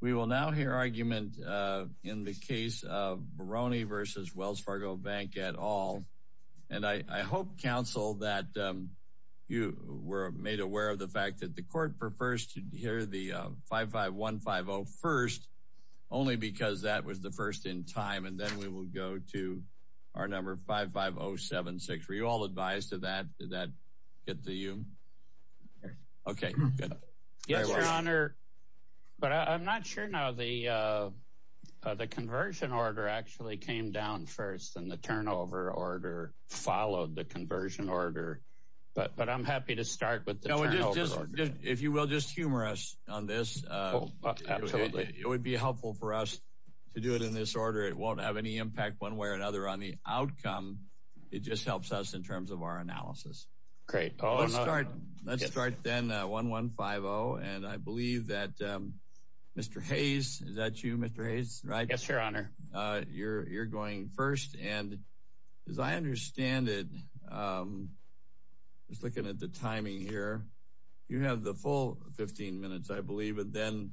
We will now hear argument in the case of Baroni v. Wells Fargo Bank et al. And I hope, counsel, that you were made aware of the fact that the court prefers to hear the 55150 first, only because that was the first in time, and then we will go to our number 55076. Were you all advised of that? Did that get to you? Okay, good. Yes, Your Honor, but I'm not sure now. The conversion order actually came down first, and the turnover order followed the conversion order, but I'm happy to start with the turnover order. If you will, just humor us on this. Absolutely. It would be helpful for us to do it in this order. It won't have any impact one way or another on the outcome. It just helps us in terms of our analysis. Great. Let's start then, 1150, and I believe that Mr. Hayes, is that you, Mr. Hayes? Yes, Your Honor. You're going first, and as I understand it, just looking at the timing here, you have the full 15 minutes, I believe, and then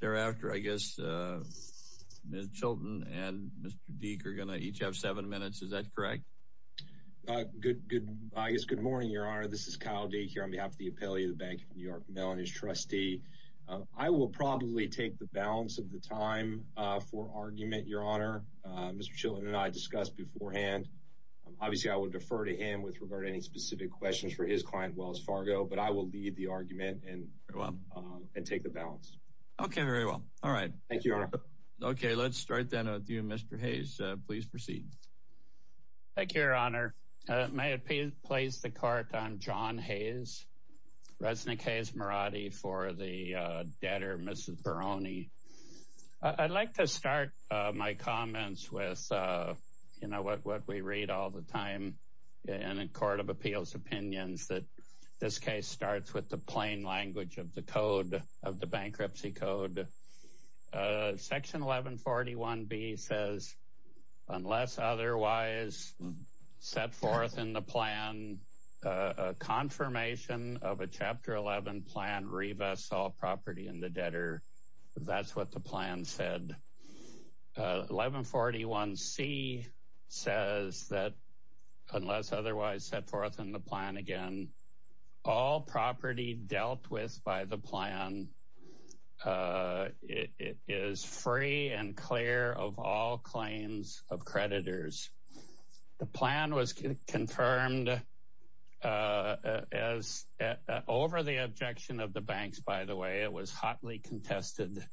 thereafter, I guess Ms. Chilton and Mr. Deek are going to each have seven minutes. Is that correct? Good morning, Your Honor. This is Kyle Deek here on behalf of the Appellee of the Bank of New York, Melanie's trustee. I will probably take the balance of the time for argument, Your Honor. Mr. Chilton and I discussed beforehand. Obviously, I would defer to him with regard to any specific questions for his client, Wells Fargo, but I will lead the argument and take the balance. Okay, very well. All right. Thank you, Your Honor. Okay, let's start then with you, Mr. Hayes. Please proceed. Thank you, Your Honor. May it please the Court, I'm John Hayes, Resnick Hayes Marotti for the debtor, Mrs. Barone. I'd like to start my comments with, you know, what we read all the time in a court of appeals opinions, that this case starts with the plain language of the code, of the bankruptcy code. Section 1141B says, unless otherwise set forth in the plan, a confirmation of a Chapter 11 plan revests all property in the debtor. That's what the plan said. 1141C says that, unless otherwise set forth in the plan again, all property dealt with by the plan is free and clear of all claims of creditors. The plan was confirmed over the objection of the banks, by the way. It was hotly contested.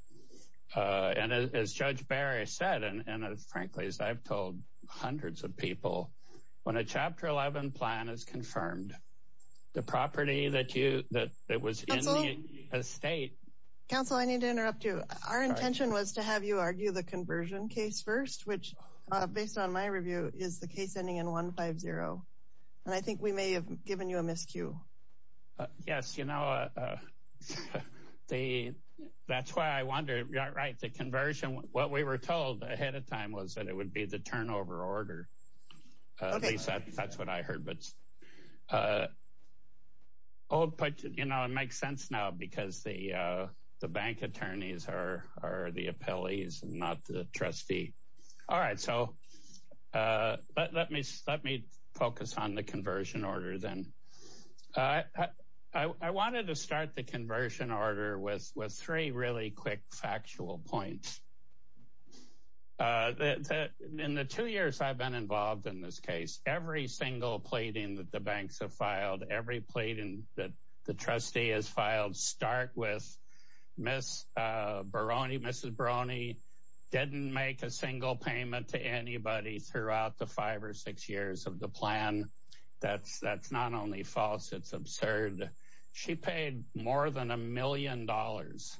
And as Judge Barry said, and frankly, as I've told hundreds of people, when a Chapter 11 plan is confirmed, the property that was in the estate. Counsel, I need to interrupt you. Our intention was to have you argue the conversion case first, which, based on my review, is the case ending in 150. And I think we may have given you a miscue. Yes, you know, that's why I wonder, right, the conversion, what we were told ahead of time was that it would be the turnover order. At least that's what I heard. But, you know, it makes sense now, because the bank attorneys are the appellees, not the trustee. All right. So let me focus on the conversion order then. I wanted to start the conversion order with three really quick factual points. In the two years I've been involved in this case, every single pleading that the banks have filed, every pleading that the trustee has filed, start with Mrs. Barone didn't make a single payment to anybody throughout the five or six years of the plan. That's not only false, it's absurd. She paid more than a million dollars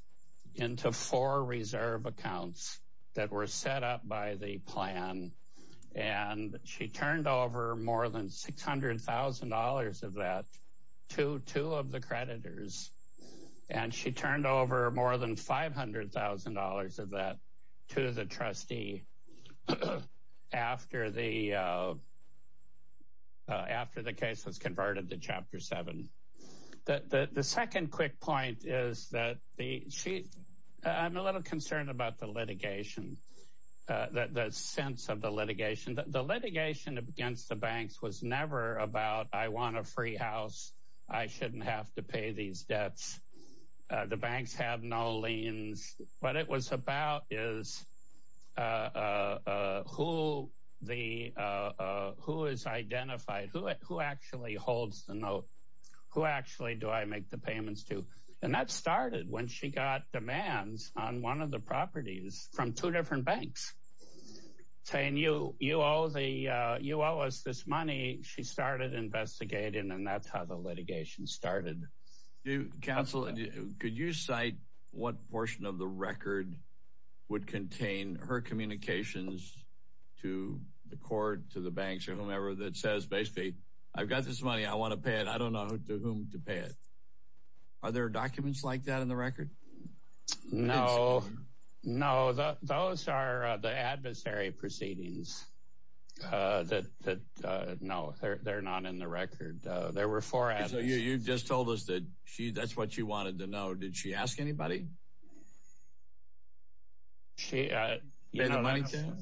into four reserve accounts that were set up by the plan, and she turned over more than $600,000 of that to two of the creditors, and she turned over more than $500,000 of that to the trustee after the case was converted to Chapter 7. The second quick point is that I'm a little concerned about the litigation, the sense of the litigation. The litigation against the banks was never about I want a free house, I shouldn't have to pay these debts. The banks have no liens. What it was about is who is identified, who actually holds the note, who actually do I make the payments to. And that started when she got demands on one of the properties from two different banks saying you owe us this money. She started investigating, and that's how the litigation started. Counsel, could you cite what portion of the record would contain her communications to the court, to the banks, or whomever that says basically I've got this money, I want to pay it, I don't know to whom to pay it. Are there documents like that in the record? No. Those are the adversary proceedings. No, they're not in the record. There were four adversaries. So you just told us that that's what she wanted to know. Did she ask anybody? Pay the money to them?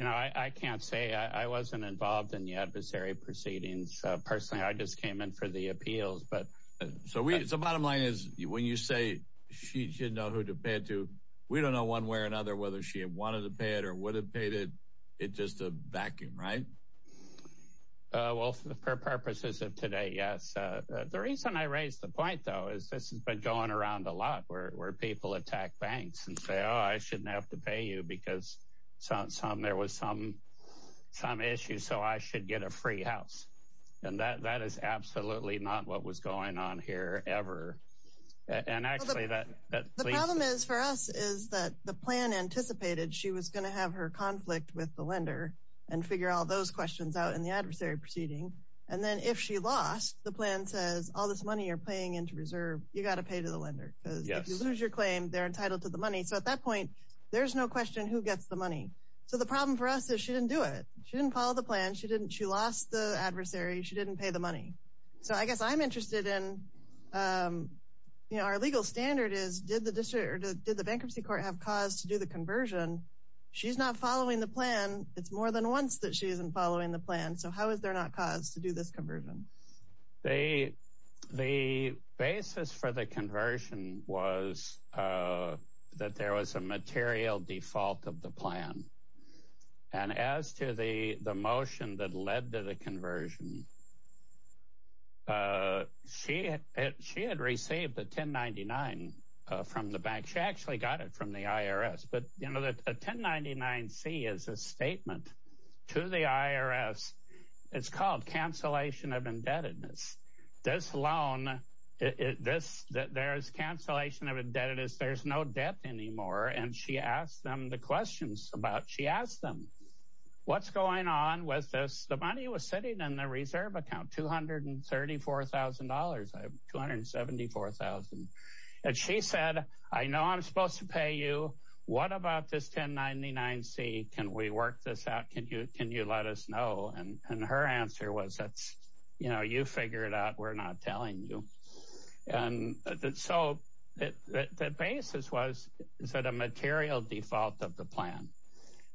I can't say. I wasn't involved in the adversary proceedings. Personally, I just came in for the appeals. So the bottom line is when you say she didn't know who to pay it to, we don't know one way or another whether she wanted to pay it or would have paid it. It's just a vacuum, right? Well, for purposes of today, yes. The reason I raise the point, though, is this has been going around a lot where people attack banks and say, oh, I shouldn't have to pay you because there was some issue, so I should get a free house. And that is absolutely not what was going on here ever. And actually that leads to – The problem is for us is that the plan anticipated she was going to have her conflict with the lender and figure all those questions out in the adversary proceeding. And then if she lost, the plan says all this money you're paying into reserve, you've got to pay to the lender. Because if you lose your claim, they're entitled to the money. So at that point, there's no question who gets the money. So the problem for us is she didn't do it. She didn't follow the plan. She lost the adversary. She didn't pay the money. So I guess I'm interested in our legal standard is did the bankruptcy court have cause to do the conversion? She's not following the plan. It's more than once that she isn't following the plan. So how is there not cause to do this conversion? The basis for the conversion was that there was a material default of the plan. And as to the motion that led to the conversion, she had received a 1099 from the bank. She actually got it from the IRS. But a 1099-C is a statement to the IRS. It's called cancellation of indebtedness. This loan, there's cancellation of indebtedness. There's no debt anymore. And she asked them the questions about it. She asked them, what's going on with this? The money was sitting in the reserve account, $234,000. I have $274,000. And she said, I know I'm supposed to pay you. What about this 1099-C? Can we work this out? Can you let us know? And her answer was, you figure it out. We're not telling you. And so the basis was is that a material default of the plan.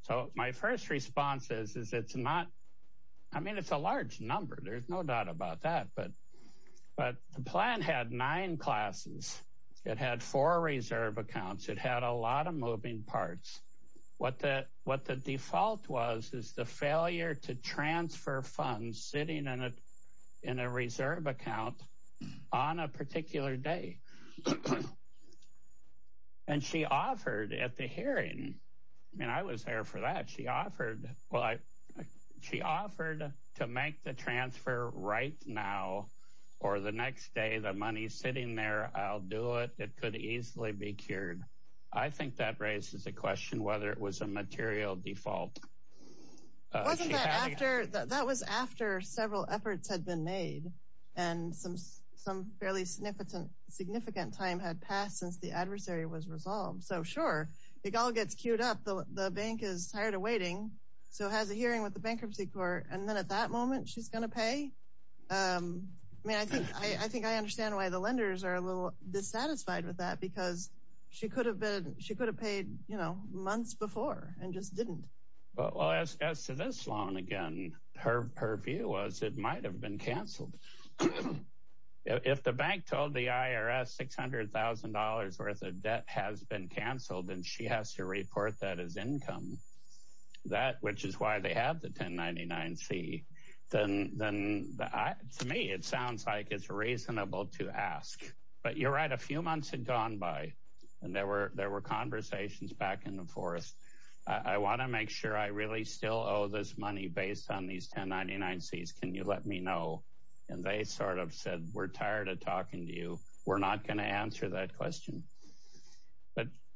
So my first response is it's not – I mean, it's a large number. There's no doubt about that. But the plan had nine classes. It had four reserve accounts. It had a lot of moving parts. What the default was is the failure to transfer funds sitting in a reserve account on a particular day. And she offered at the hearing – I mean, I was there for that. She offered – well, she offered to make the transfer right now or the next day. The money's sitting there. I'll do it. It could easily be cured. I think that raises a question whether it was a material default. Wasn't that after – that was after several efforts had been made and some fairly significant time had passed since the adversary was resolved. So, sure, it all gets queued up. The bank is tired of waiting, so has a hearing with the bankruptcy court, and then at that moment she's going to pay? I mean, I think I understand why the lenders are a little dissatisfied with that because she could have paid months before and just didn't. Well, as to this loan again, her view was it might have been canceled. If the bank told the IRS $600,000 worth of debt has been canceled and she has to report that as income, which is why they have the 1099-C, then to me it sounds like it's reasonable to ask. But you're right, a few months had gone by, and there were conversations back and forth. I want to make sure I really still owe this money based on these 1099-Cs. Can you let me know? And they sort of said, we're tired of talking to you. We're not going to answer that question.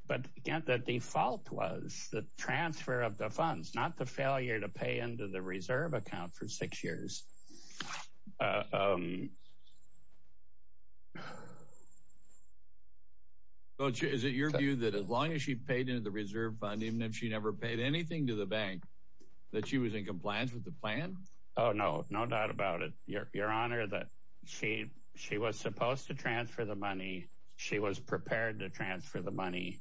But, again, the default was the transfer of the funds, not the failure to pay into the reserve account for six years. Is it your view that as long as she paid into the reserve fund, even if she never paid anything to the bank, that she was in compliance with the plan? Oh, no, no doubt about it, Your Honor, that she was supposed to transfer the money. She was prepared to transfer the money.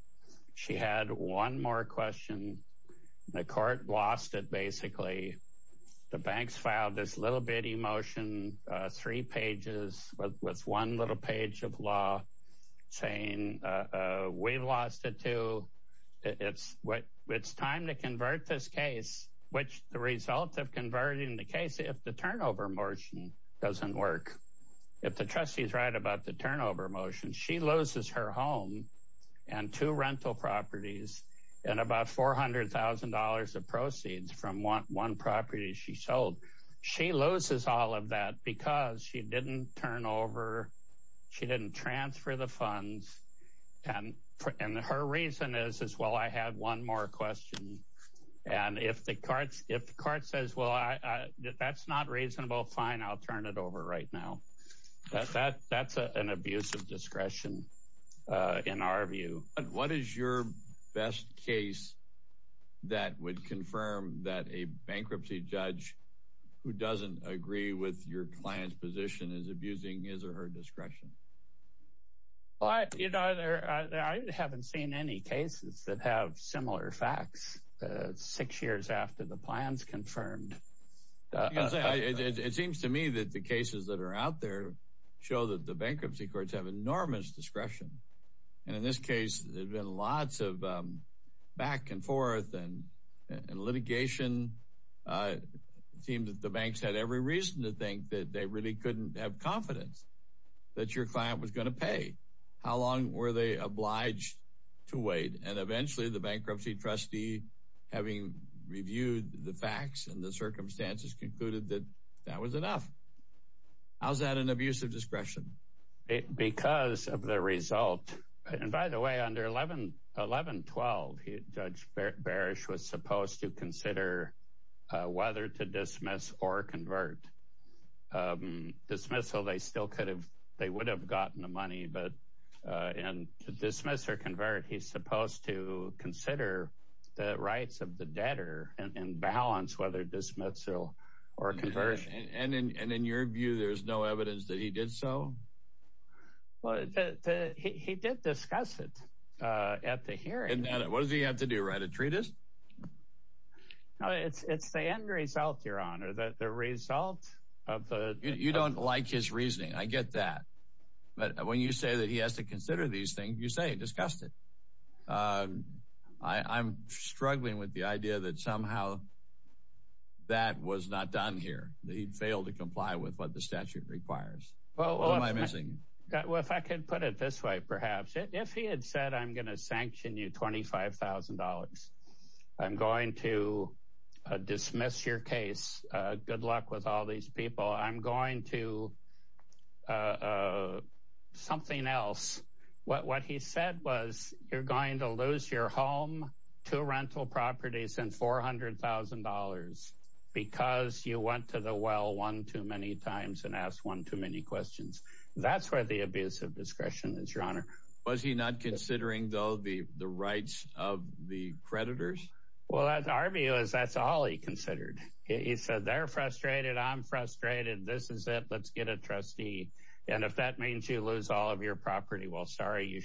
She had one more question. The court lost it, basically. The banks filed this little bitty motion, three pages with one little page of law, saying we've lost it, too. It's time to convert this case, which the result of converting the case, if the turnover motion doesn't work, if the trustee is right about the turnover motion, she loses her home and two rental properties and about $400,000 of proceeds from one property she sold. She loses all of that because she didn't turn over, she didn't transfer the funds. And her reason is, well, I had one more question. And if the court says, well, that's not reasonable, fine, I'll turn it over right now. That's an abuse of discretion in our view. What is your best case that would confirm that a bankruptcy judge who doesn't agree with your client's position is abusing his or her discretion? I haven't seen any cases that have similar facts six years after the plan's confirmed. It seems to me that the cases that are out there show that the bankruptcy courts have enormous discretion. And in this case, there's been lots of back and forth and litigation. It seems that the banks had every reason to think that they really couldn't have confidence that your client was going to pay. How long were they obliged to wait? And eventually, the bankruptcy trustee, having reviewed the facts and the circumstances, concluded that that was enough. How's that an abuse of discretion? Because of the result. And by the way, under 1112, Judge Barish was supposed to consider whether to dismiss or convert. Dismissal, they still could have, they would have gotten the money. But to dismiss or convert, he's supposed to consider the rights of the debtor and balance whether dismissal or conversion. And in your view, there's no evidence that he did so? He did discuss it at the hearing. And what does he have to do, write a treatise? It's the end result, Your Honor, the result of the... You don't like his reasoning, I get that. But when you say that he has to consider these things, you say he discussed it. I'm struggling with the idea that somehow that was not done here. That he failed to comply with what the statute requires. What am I missing? Well, if I could put it this way, perhaps. If he had said, I'm going to sanction you $25,000. I'm going to dismiss your case. Good luck with all these people. I'm going to something else. What he said was, you're going to lose your home, two rental properties, and $400,000. Because you went to the well one too many times and asked one too many questions. That's where the abuse of discretion is, Your Honor. Was he not considering, though, the rights of the creditors? Well, our view is that's all he considered. He said, they're frustrated, I'm frustrated, this is it, let's get a trustee. And if that means you lose all of your property, well, sorry,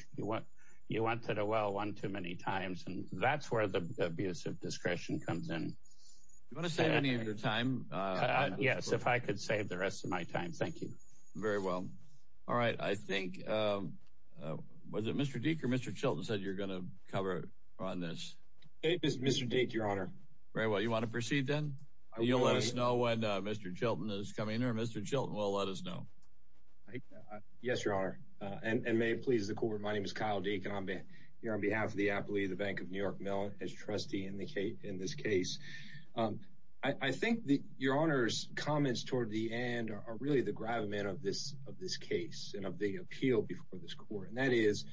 you went to the well one too many times. And that's where the abuse of discretion comes in. Do you want to save any of your time? Yes, if I could save the rest of my time, thank you. Very well. All right, I think, was it Mr. Deek or Mr. Chilton said you're going to cover on this? It was Mr. Deek, Your Honor. Very well. You want to proceed then? You'll let us know when Mr. Chilton is coming here. Mr. Chilton will let us know. Yes, Your Honor. And may it please the Court, my name is Kyle Deek, and I'm here on behalf of the appellee of the Bank of New York Mill as trustee in this case. I think Your Honor's comments toward the end are really the gravamen of this case and of the appeal before this Court. And that is,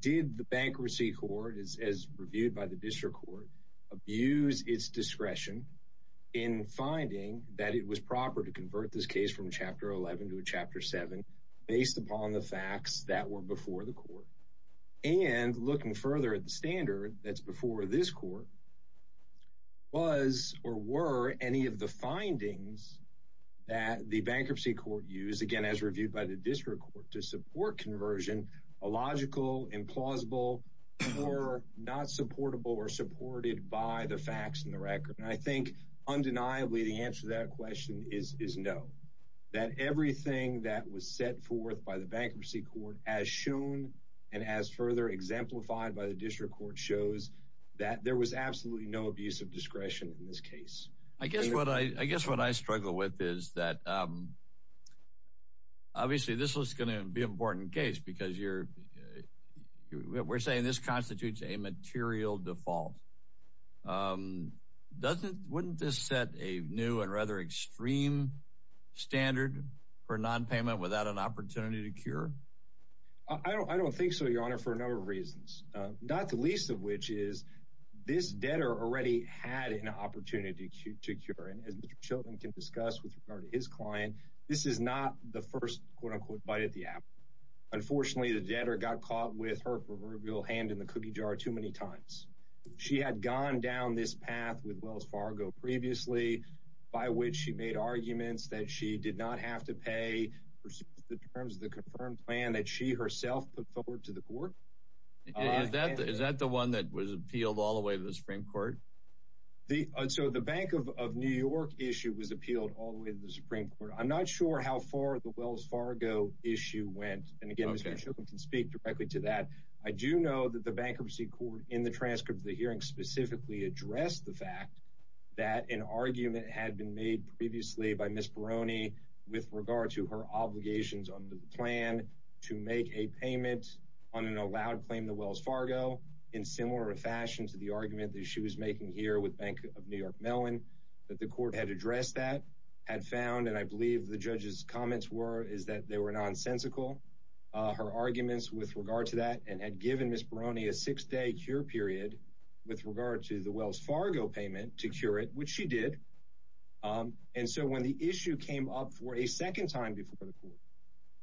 did the Bankruptcy Court, as reviewed by the District Court, abuse its discretion in finding that it was proper to convert this case from a Chapter 11 to a Chapter 7 based upon the facts that were before the Court? And looking further at the standard that's before this Court, was or were any of the findings that the Bankruptcy Court used, once again as reviewed by the District Court, to support conversion illogical, implausible, or not supportable or supported by the facts in the record? And I think undeniably the answer to that question is no. That everything that was set forth by the Bankruptcy Court as shown and as further exemplified by the District Court shows that there was absolutely no abuse of discretion in this case. I guess what I struggle with is that obviously this was going to be an important case because we're saying this constitutes a material default. Wouldn't this set a new and rather extreme standard for nonpayment without an opportunity to cure? I don't think so, Your Honor, for a number of reasons. Not the least of which is this debtor already had an opportunity to cure. And as Mr. Chilton can discuss with regard to his client, this is not the first quote-unquote bite at the apple. Unfortunately, the debtor got caught with her proverbial hand in the cookie jar too many times. She had gone down this path with Wells Fargo previously, by which she made arguments that she did not have to pay in terms of the confirmed plan that she herself put forward to the court. Is that the one that was appealed all the way to the Supreme Court? So the Bank of New York issue was appealed all the way to the Supreme Court. I'm not sure how far the Wells Fargo issue went. And again, Mr. Chilton can speak directly to that. I do know that the Bankruptcy Court in the transcript of the hearing specifically addressed the fact that an argument had been made previously by Ms. Barone with regard to her obligations under the plan to make a payment on an allowed claim to Wells Fargo in similar fashion to the argument that she was making here with Bank of New York Mellon, that the court had addressed that, had found, and I believe the judge's comments were, is that they were nonsensical. Her arguments with regard to that, and had given Ms. Barone a six-day cure period with regard to the Wells Fargo payment to cure it, which she did. And so when the issue came up for a second time before the court,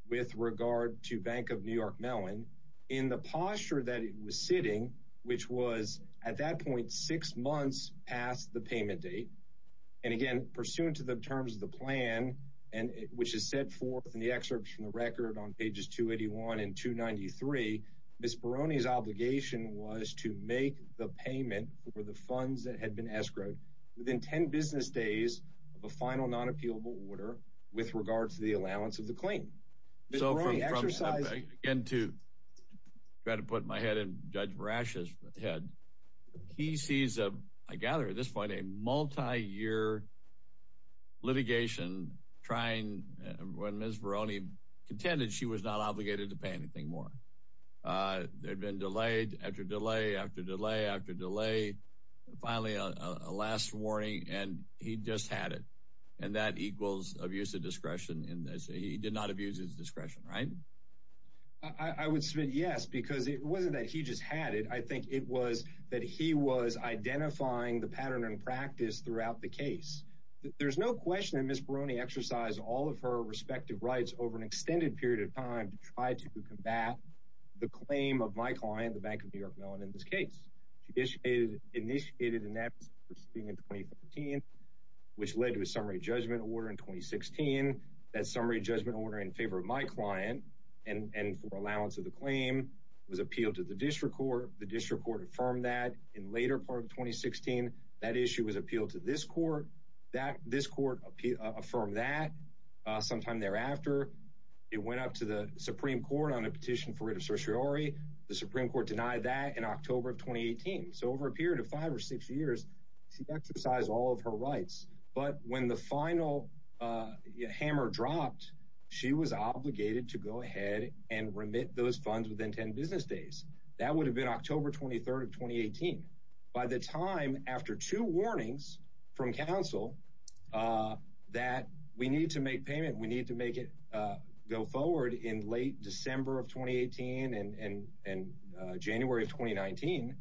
with regard to Bank of New York Mellon, in the posture that it was sitting, which was at that point six months past the payment date, and again, pursuant to the terms of the plan, which is set forth in the excerpt from the record on pages 281 and 293, Ms. Barone's obligation was to make the payment for the funds that had been escrowed within ten business days of a final non-appealable order with regard to the allowance of the claim. Ms. Barone exercised... Again, to try to put my head in Judge Marash's head, he sees a, I gather at this point, a multi-year litigation when Ms. Barone contended she was not obligated to pay anything more. There had been delay, after delay, after delay, after delay, and finally a last warning, and he just had it. And that equals abuse of discretion. He did not abuse his discretion, right? I would submit yes, because it wasn't that he just had it. I think it was that he was identifying the pattern in practice throughout the case. There's no question that Ms. Barone exercised all of her respective rights over an extended period of time to try to combat the claim of my client, the Bank of New York Mellon, in this case. She initiated an absence of proceeding in 2013, which led to a summary judgment order in 2016. That summary judgment order in favor of my client and for allowance of the claim was appealed to the district court. The district court affirmed that in later part of 2016. That issue was appealed to this court. This court affirmed that sometime thereafter. It went up to the Supreme Court on a petition for writ of certiorari. The Supreme Court denied that in October of 2018. So over a period of five or six years, she exercised all of her rights. But when the final hammer dropped, she was obligated to go ahead and remit those funds within 10 business days. That would have been October 23rd of 2018. By the time after two warnings from counsel that we need to make payment, we need to make it go forward in late December of 2018 and January of 2019,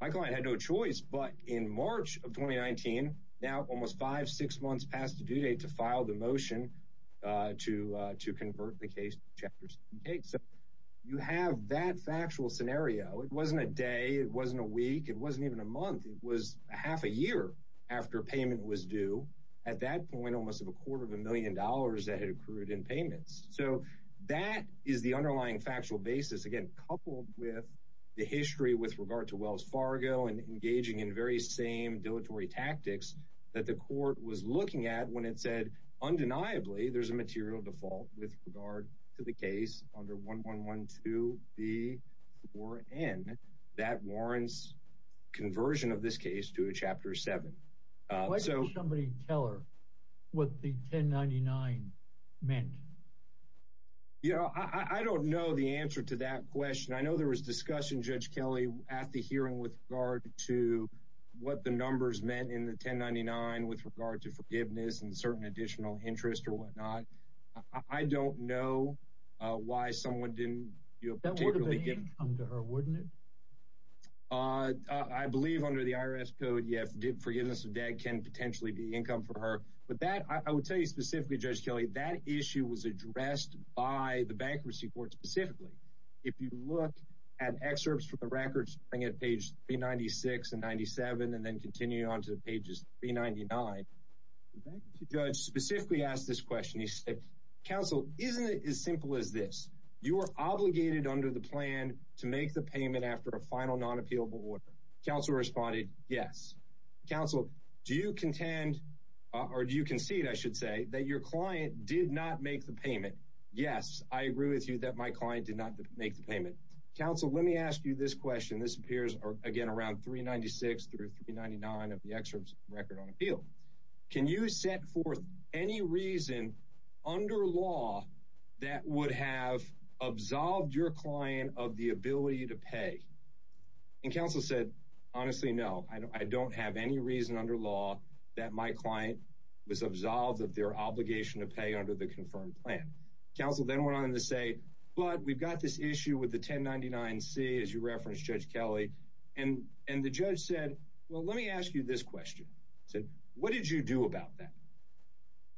my client had no choice but in March of 2019, now almost five, six months past the due date, to file the motion to convert the case to Chapter 7K. So you have that factual scenario. It wasn't a day. It wasn't a week. It wasn't even a month. It was half a year after payment was due. At that point, almost a quarter of a million dollars had accrued in payments. So that is the underlying factual basis, again, coupled with the history with regard to Wells Fargo and engaging in very same dilatory tactics that the court was looking at when it said, undeniably, there's a material default with regard to the case under 1112B4N that warrants conversion of this case to a Chapter 7. Why didn't somebody tell her what the 1099 meant? I don't know the answer to that question. I know there was discussion, Judge Kelley, at the hearing with regard to what the numbers meant in the 1099 with regard to forgiveness and certain additional interest or whatnot. I don't know why someone didn't do a particular thing. That would have been income to her, wouldn't it? I believe under the IRS code, yes, forgiveness of debt can potentially be income for her. But that, I would tell you specifically, Judge Kelley, that issue was addressed by the bankruptcy court specifically. If you look at excerpts from the records, looking at pages 396 and 97 and then continuing on to pages 399, the bankruptcy judge specifically asked this question. He said, Counsel, isn't it as simple as this? You are obligated under the plan to make the payment after a final non-appealable order. Counsel responded, yes. Counsel, do you contend, or do you concede, I should say, that your client did not make the payment? Yes, I agree with you that my client did not make the payment. Counsel, let me ask you this question. This appears, again, around 396 through 399 of the excerpts from the record on appeal. Can you set forth any reason under law that would have absolved your client of the ability to pay? Counsel said, honestly, no. I don't have any reason under law that my client was absolved of their obligation to pay under the confirmed plan. Counsel then went on to say, but we've got this issue with the 1099-C, as you referenced, Judge Kelly. And the judge said, well, let me ask you this question. He said, what did you do about that?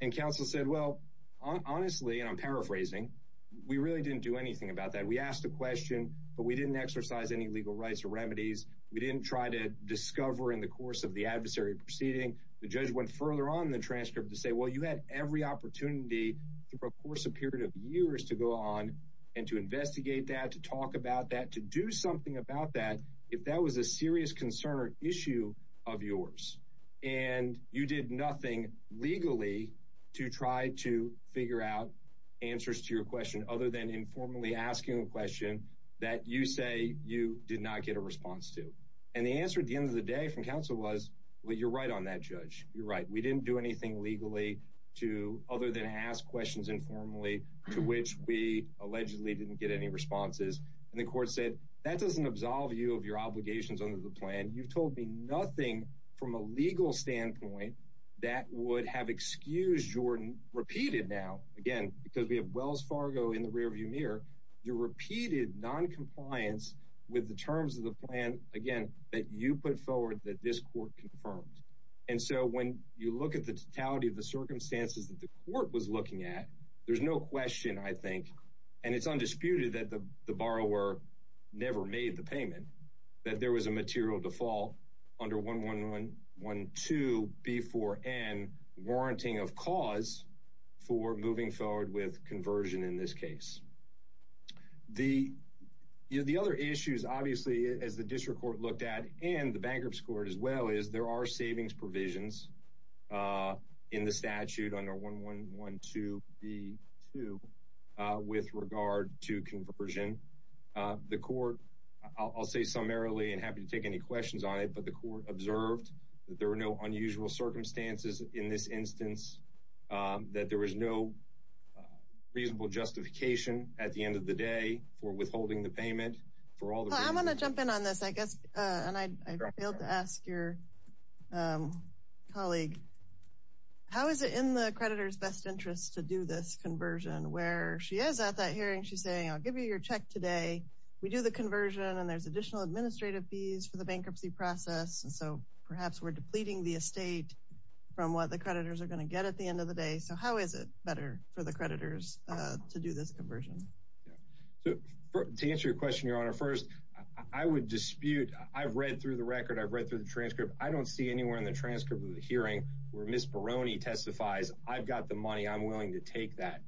And Counsel said, well, honestly, and I'm paraphrasing, we really didn't do anything about that. We asked the question, but we didn't exercise any legal rights or remedies. We didn't try to discover in the course of the adversary proceeding. The judge went further on in the transcript to say, well, you had every opportunity through a course of period of years to go on and to investigate that, to talk about that, to do something about that if that was a serious concern or issue of yours. And you did nothing legally to try to figure out answers to your question other than informally asking a question that you say you did not get a response to. And the answer at the end of the day from Counsel was, well, you're right on that, Judge, you're right. We didn't do anything legally other than ask questions informally to which we allegedly didn't get any responses. And the court said, that doesn't absolve you of your obligations under the plan. You've told me nothing from a legal standpoint that would have excused your repeated now, again, because we have Wells Fargo in the rearview mirror, your repeated noncompliance with the terms of the plan, again, that you put forward that this court confirmed. And so when you look at the totality of the circumstances that the court was looking at, there's no question, I think, and it's undisputed that the borrower never made the payment, that there was a material default under 1112B4N, warranting of cause for moving forward with conversion in this case. The other issues, obviously, as the District Court looked at and the Bankruptcy Court as well, is there are savings provisions in the statute under 1112B2 with regard to conversion. The court, I'll say summarily and happy to take any questions on it, but the court observed that there were no unusual circumstances in this instance, that there was no reasonable justification at the end of the day for withholding the payment. I'm going to jump in on this, I guess, and I failed to ask your colleague. How is it in the creditor's best interest to do this conversion where she is at that hearing, she's saying, I'll give you your check today, we do the conversion, and there's additional administrative fees for the bankruptcy process, and so perhaps we're depleting the estate from what the creditors are going to get at the end of the day. So how is it better for the creditors to do this conversion? To answer your question, Your Honor, first, I would dispute, I've read through the record, I've read through the transcript, I don't see anywhere in the transcript of the hearing where Ms. Barone testifies, I've got the money, I'm willing to take that.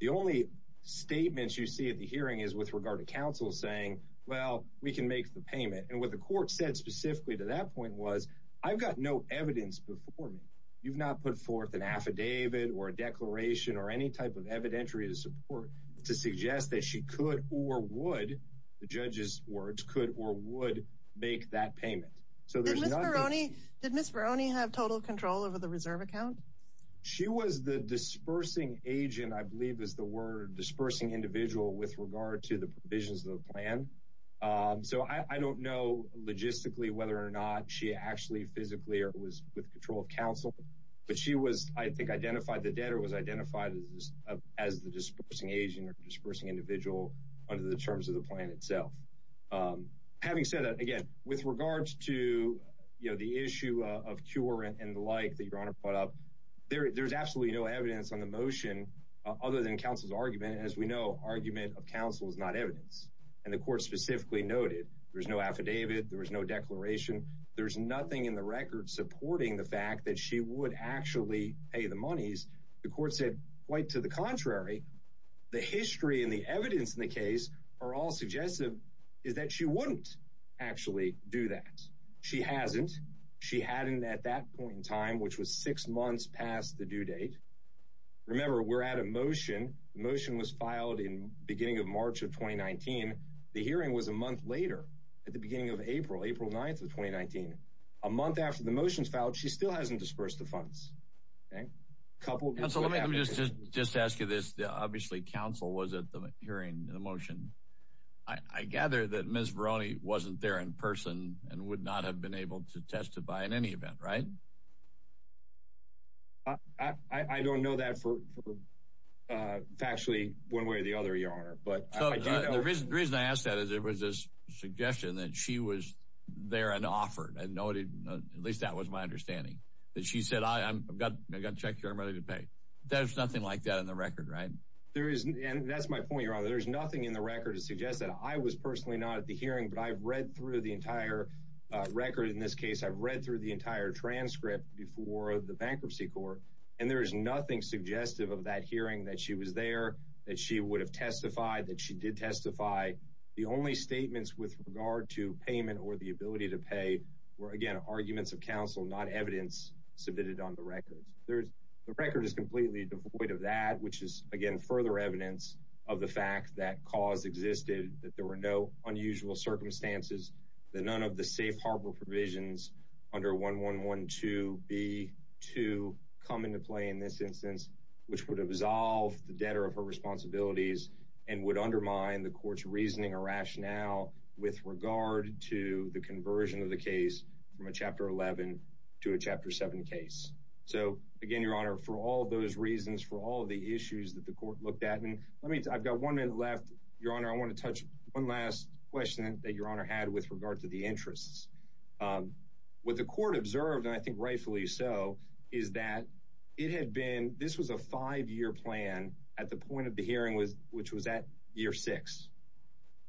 The only statements you see at the hearing is with regard to counsel saying, well, we can make the payment. And what the court said specifically to that point was, I've got no evidence before me. You've not put forth an affidavit or a declaration or any type of evidentiary support to suggest that she could or would, the judge's words, could or would make that payment. Did Ms. Barone have total control over the reserve account? She was the dispersing agent, I believe is the word, dispersing individual with regard to the provisions of the plan. So I don't know logistically whether or not she actually physically or was with control of counsel, but she was, I think, identified the debtor, was identified as the dispersing agent or dispersing individual under the terms of the plan itself. Having said that, again, with regards to the issue of cure and the like that Your Honor brought up, there's absolutely no evidence on the motion other than counsel's argument. As we know, argument of counsel is not evidence. And the court specifically noted there's no affidavit, there was no declaration, there's nothing in the record supporting the fact that she would actually pay the monies. The court said quite to the contrary. The history and the evidence in the case are all suggestive is that she wouldn't actually do that. She hasn't. She hadn't at that point in time, which was six months past the due date. Remember, we're at a motion. The motion was filed in beginning of March of 2019. The hearing was a month later, at the beginning of April, April 9th of 2019. A month after the motion was filed, she still hasn't disbursed the funds. Okay? A couple of years ago. Counsel, let me just ask you this. Obviously, counsel was at the hearing in the motion. I gather that Ms. Veroni wasn't there in person and would not have been able to testify in any event, right? I don't know that factually one way or the other, Your Honor. So the reason I ask that is it was a suggestion that she was there and offered. At least that was my understanding, that she said, I've got a check here I'm ready to pay. There's nothing like that in the record, right? That's my point, Your Honor. There's nothing in the record to suggest that. I was personally not at the hearing, but I've read through the entire record in this case. I've read through the entire transcript before the bankruptcy court, and there is nothing suggestive of that hearing that she was there, that she would have testified, that she did testify. The only statements with regard to payment or the ability to pay were, again, arguments of counsel, not evidence submitted on the record. The record is completely devoid of that, which is, again, further evidence of the fact that cause existed, that there were no unusual circumstances, that none of the safe harbor provisions under 1112B2 come into play in this instance, which would absolve the debtor of her responsibilities and would undermine the court's reasoning or rationale with regard to the conversion of the case from a Chapter 11 to a Chapter 7 case. So, again, Your Honor, for all of those reasons, for all of the issues that the court looked at, and I've got one minute left, Your Honor, I want to touch one last question that Your Honor had with regard to the interests. What the court observed, and I think rightfully so, is that it had been, this was a five-year plan, at the point of the hearing, which was at year six.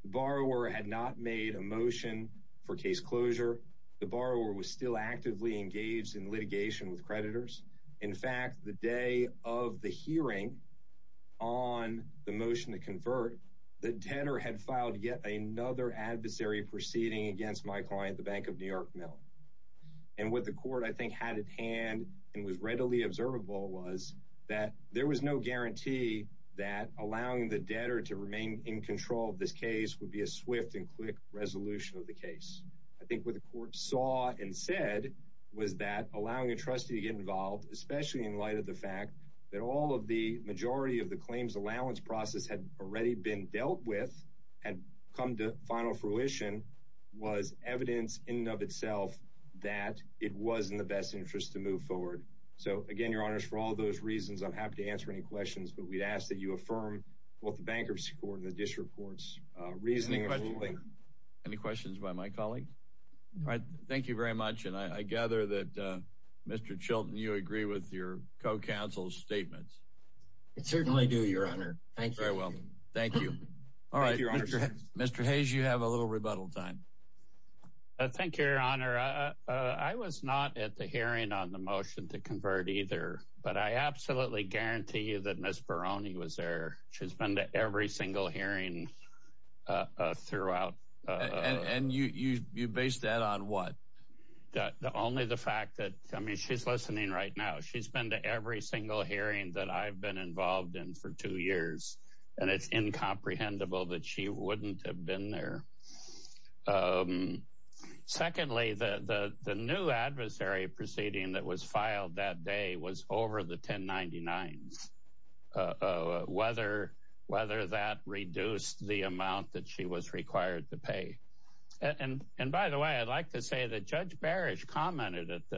The borrower had not made a motion for case closure. The borrower was still actively engaged in litigation with creditors. In fact, the day of the hearing on the motion to convert, the debtor had filed yet another adversary proceeding against my client, the Bank of New York Mill. And what the court, I think, had at hand and was readily observable was that there was no guarantee that allowing the debtor to remain in control of this case would be a swift and quick resolution of the case. I think what the court saw and said was that allowing a trustee to get involved, especially in light of the fact that all of the majority of the claims allowance process had already been dealt with and come to final fruition, was evidence in and of itself that it was in the best interest to move forward. So, again, Your Honors, for all of those reasons, I'm happy to answer any questions, but we'd ask that you affirm both the bankruptcy court and the district court's reasoning. Any questions by my colleague? All right. Thank you very much. And I gather that, Mr. Chilton, you agree with your co-counsel's statements. I certainly do, Your Honor. Thank you. Very well. Thank you. All right. Mr. Hayes, you have a little rebuttal time. Thank you, Your Honor. Your Honor, I was not at the hearing on the motion to convert either, but I absolutely guarantee you that Ms. Barone was there. She's been to every single hearing throughout. And you base that on what? Only the fact that, I mean, she's listening right now. She's been to every single hearing that I've been involved in for two years, and it's incomprehensible that she wouldn't have been there. Secondly, the new adversary proceeding that was filed that day was over the 1099s, whether that reduced the amount that she was required to pay. And by the way, I'd like to say that Judge Barish commented at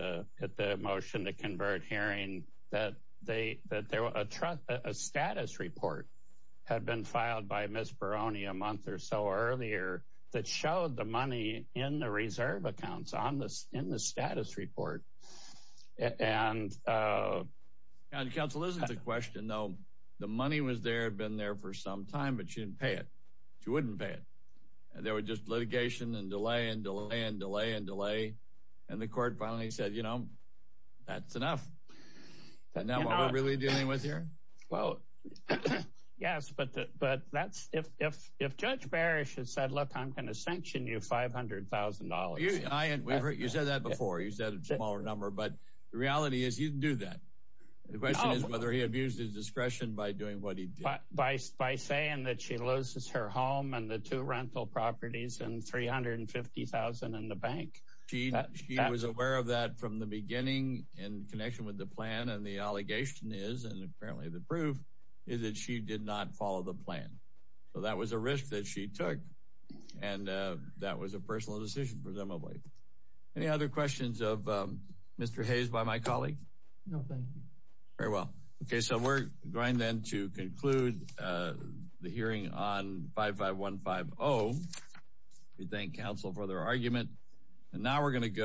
the motion to convert hearing that a status report had been filed by Ms. Barone a month or so earlier that showed the money in the reserve accounts in the status report. Counsel, this is a question, though. The money was there, had been there for some time, but she didn't pay it. She wouldn't pay it. There was just litigation and delay and delay and delay and delay, and the court finally said, you know, that's enough. Isn't that what we're really dealing with here? Well, yes, but if Judge Barish had said, look, I'm going to sanction you $500,000. You said that before. You said a smaller number, but the reality is he didn't do that. The question is whether he abused his discretion by doing what he did. By saying that she loses her home and the two rental properties and $350,000 in the bank. She was aware of that from the beginning in connection with the plan, and the allegation is, and apparently the proof, is that she did not follow the plan. So that was a risk that she took, and that was a personal decision, presumably. Any other questions of Mr. Hayes by my colleague? No, thank you. Very well. Okay, so we're going then to conclude the hearing on 55150. We thank counsel for their argument, and now we're going to go.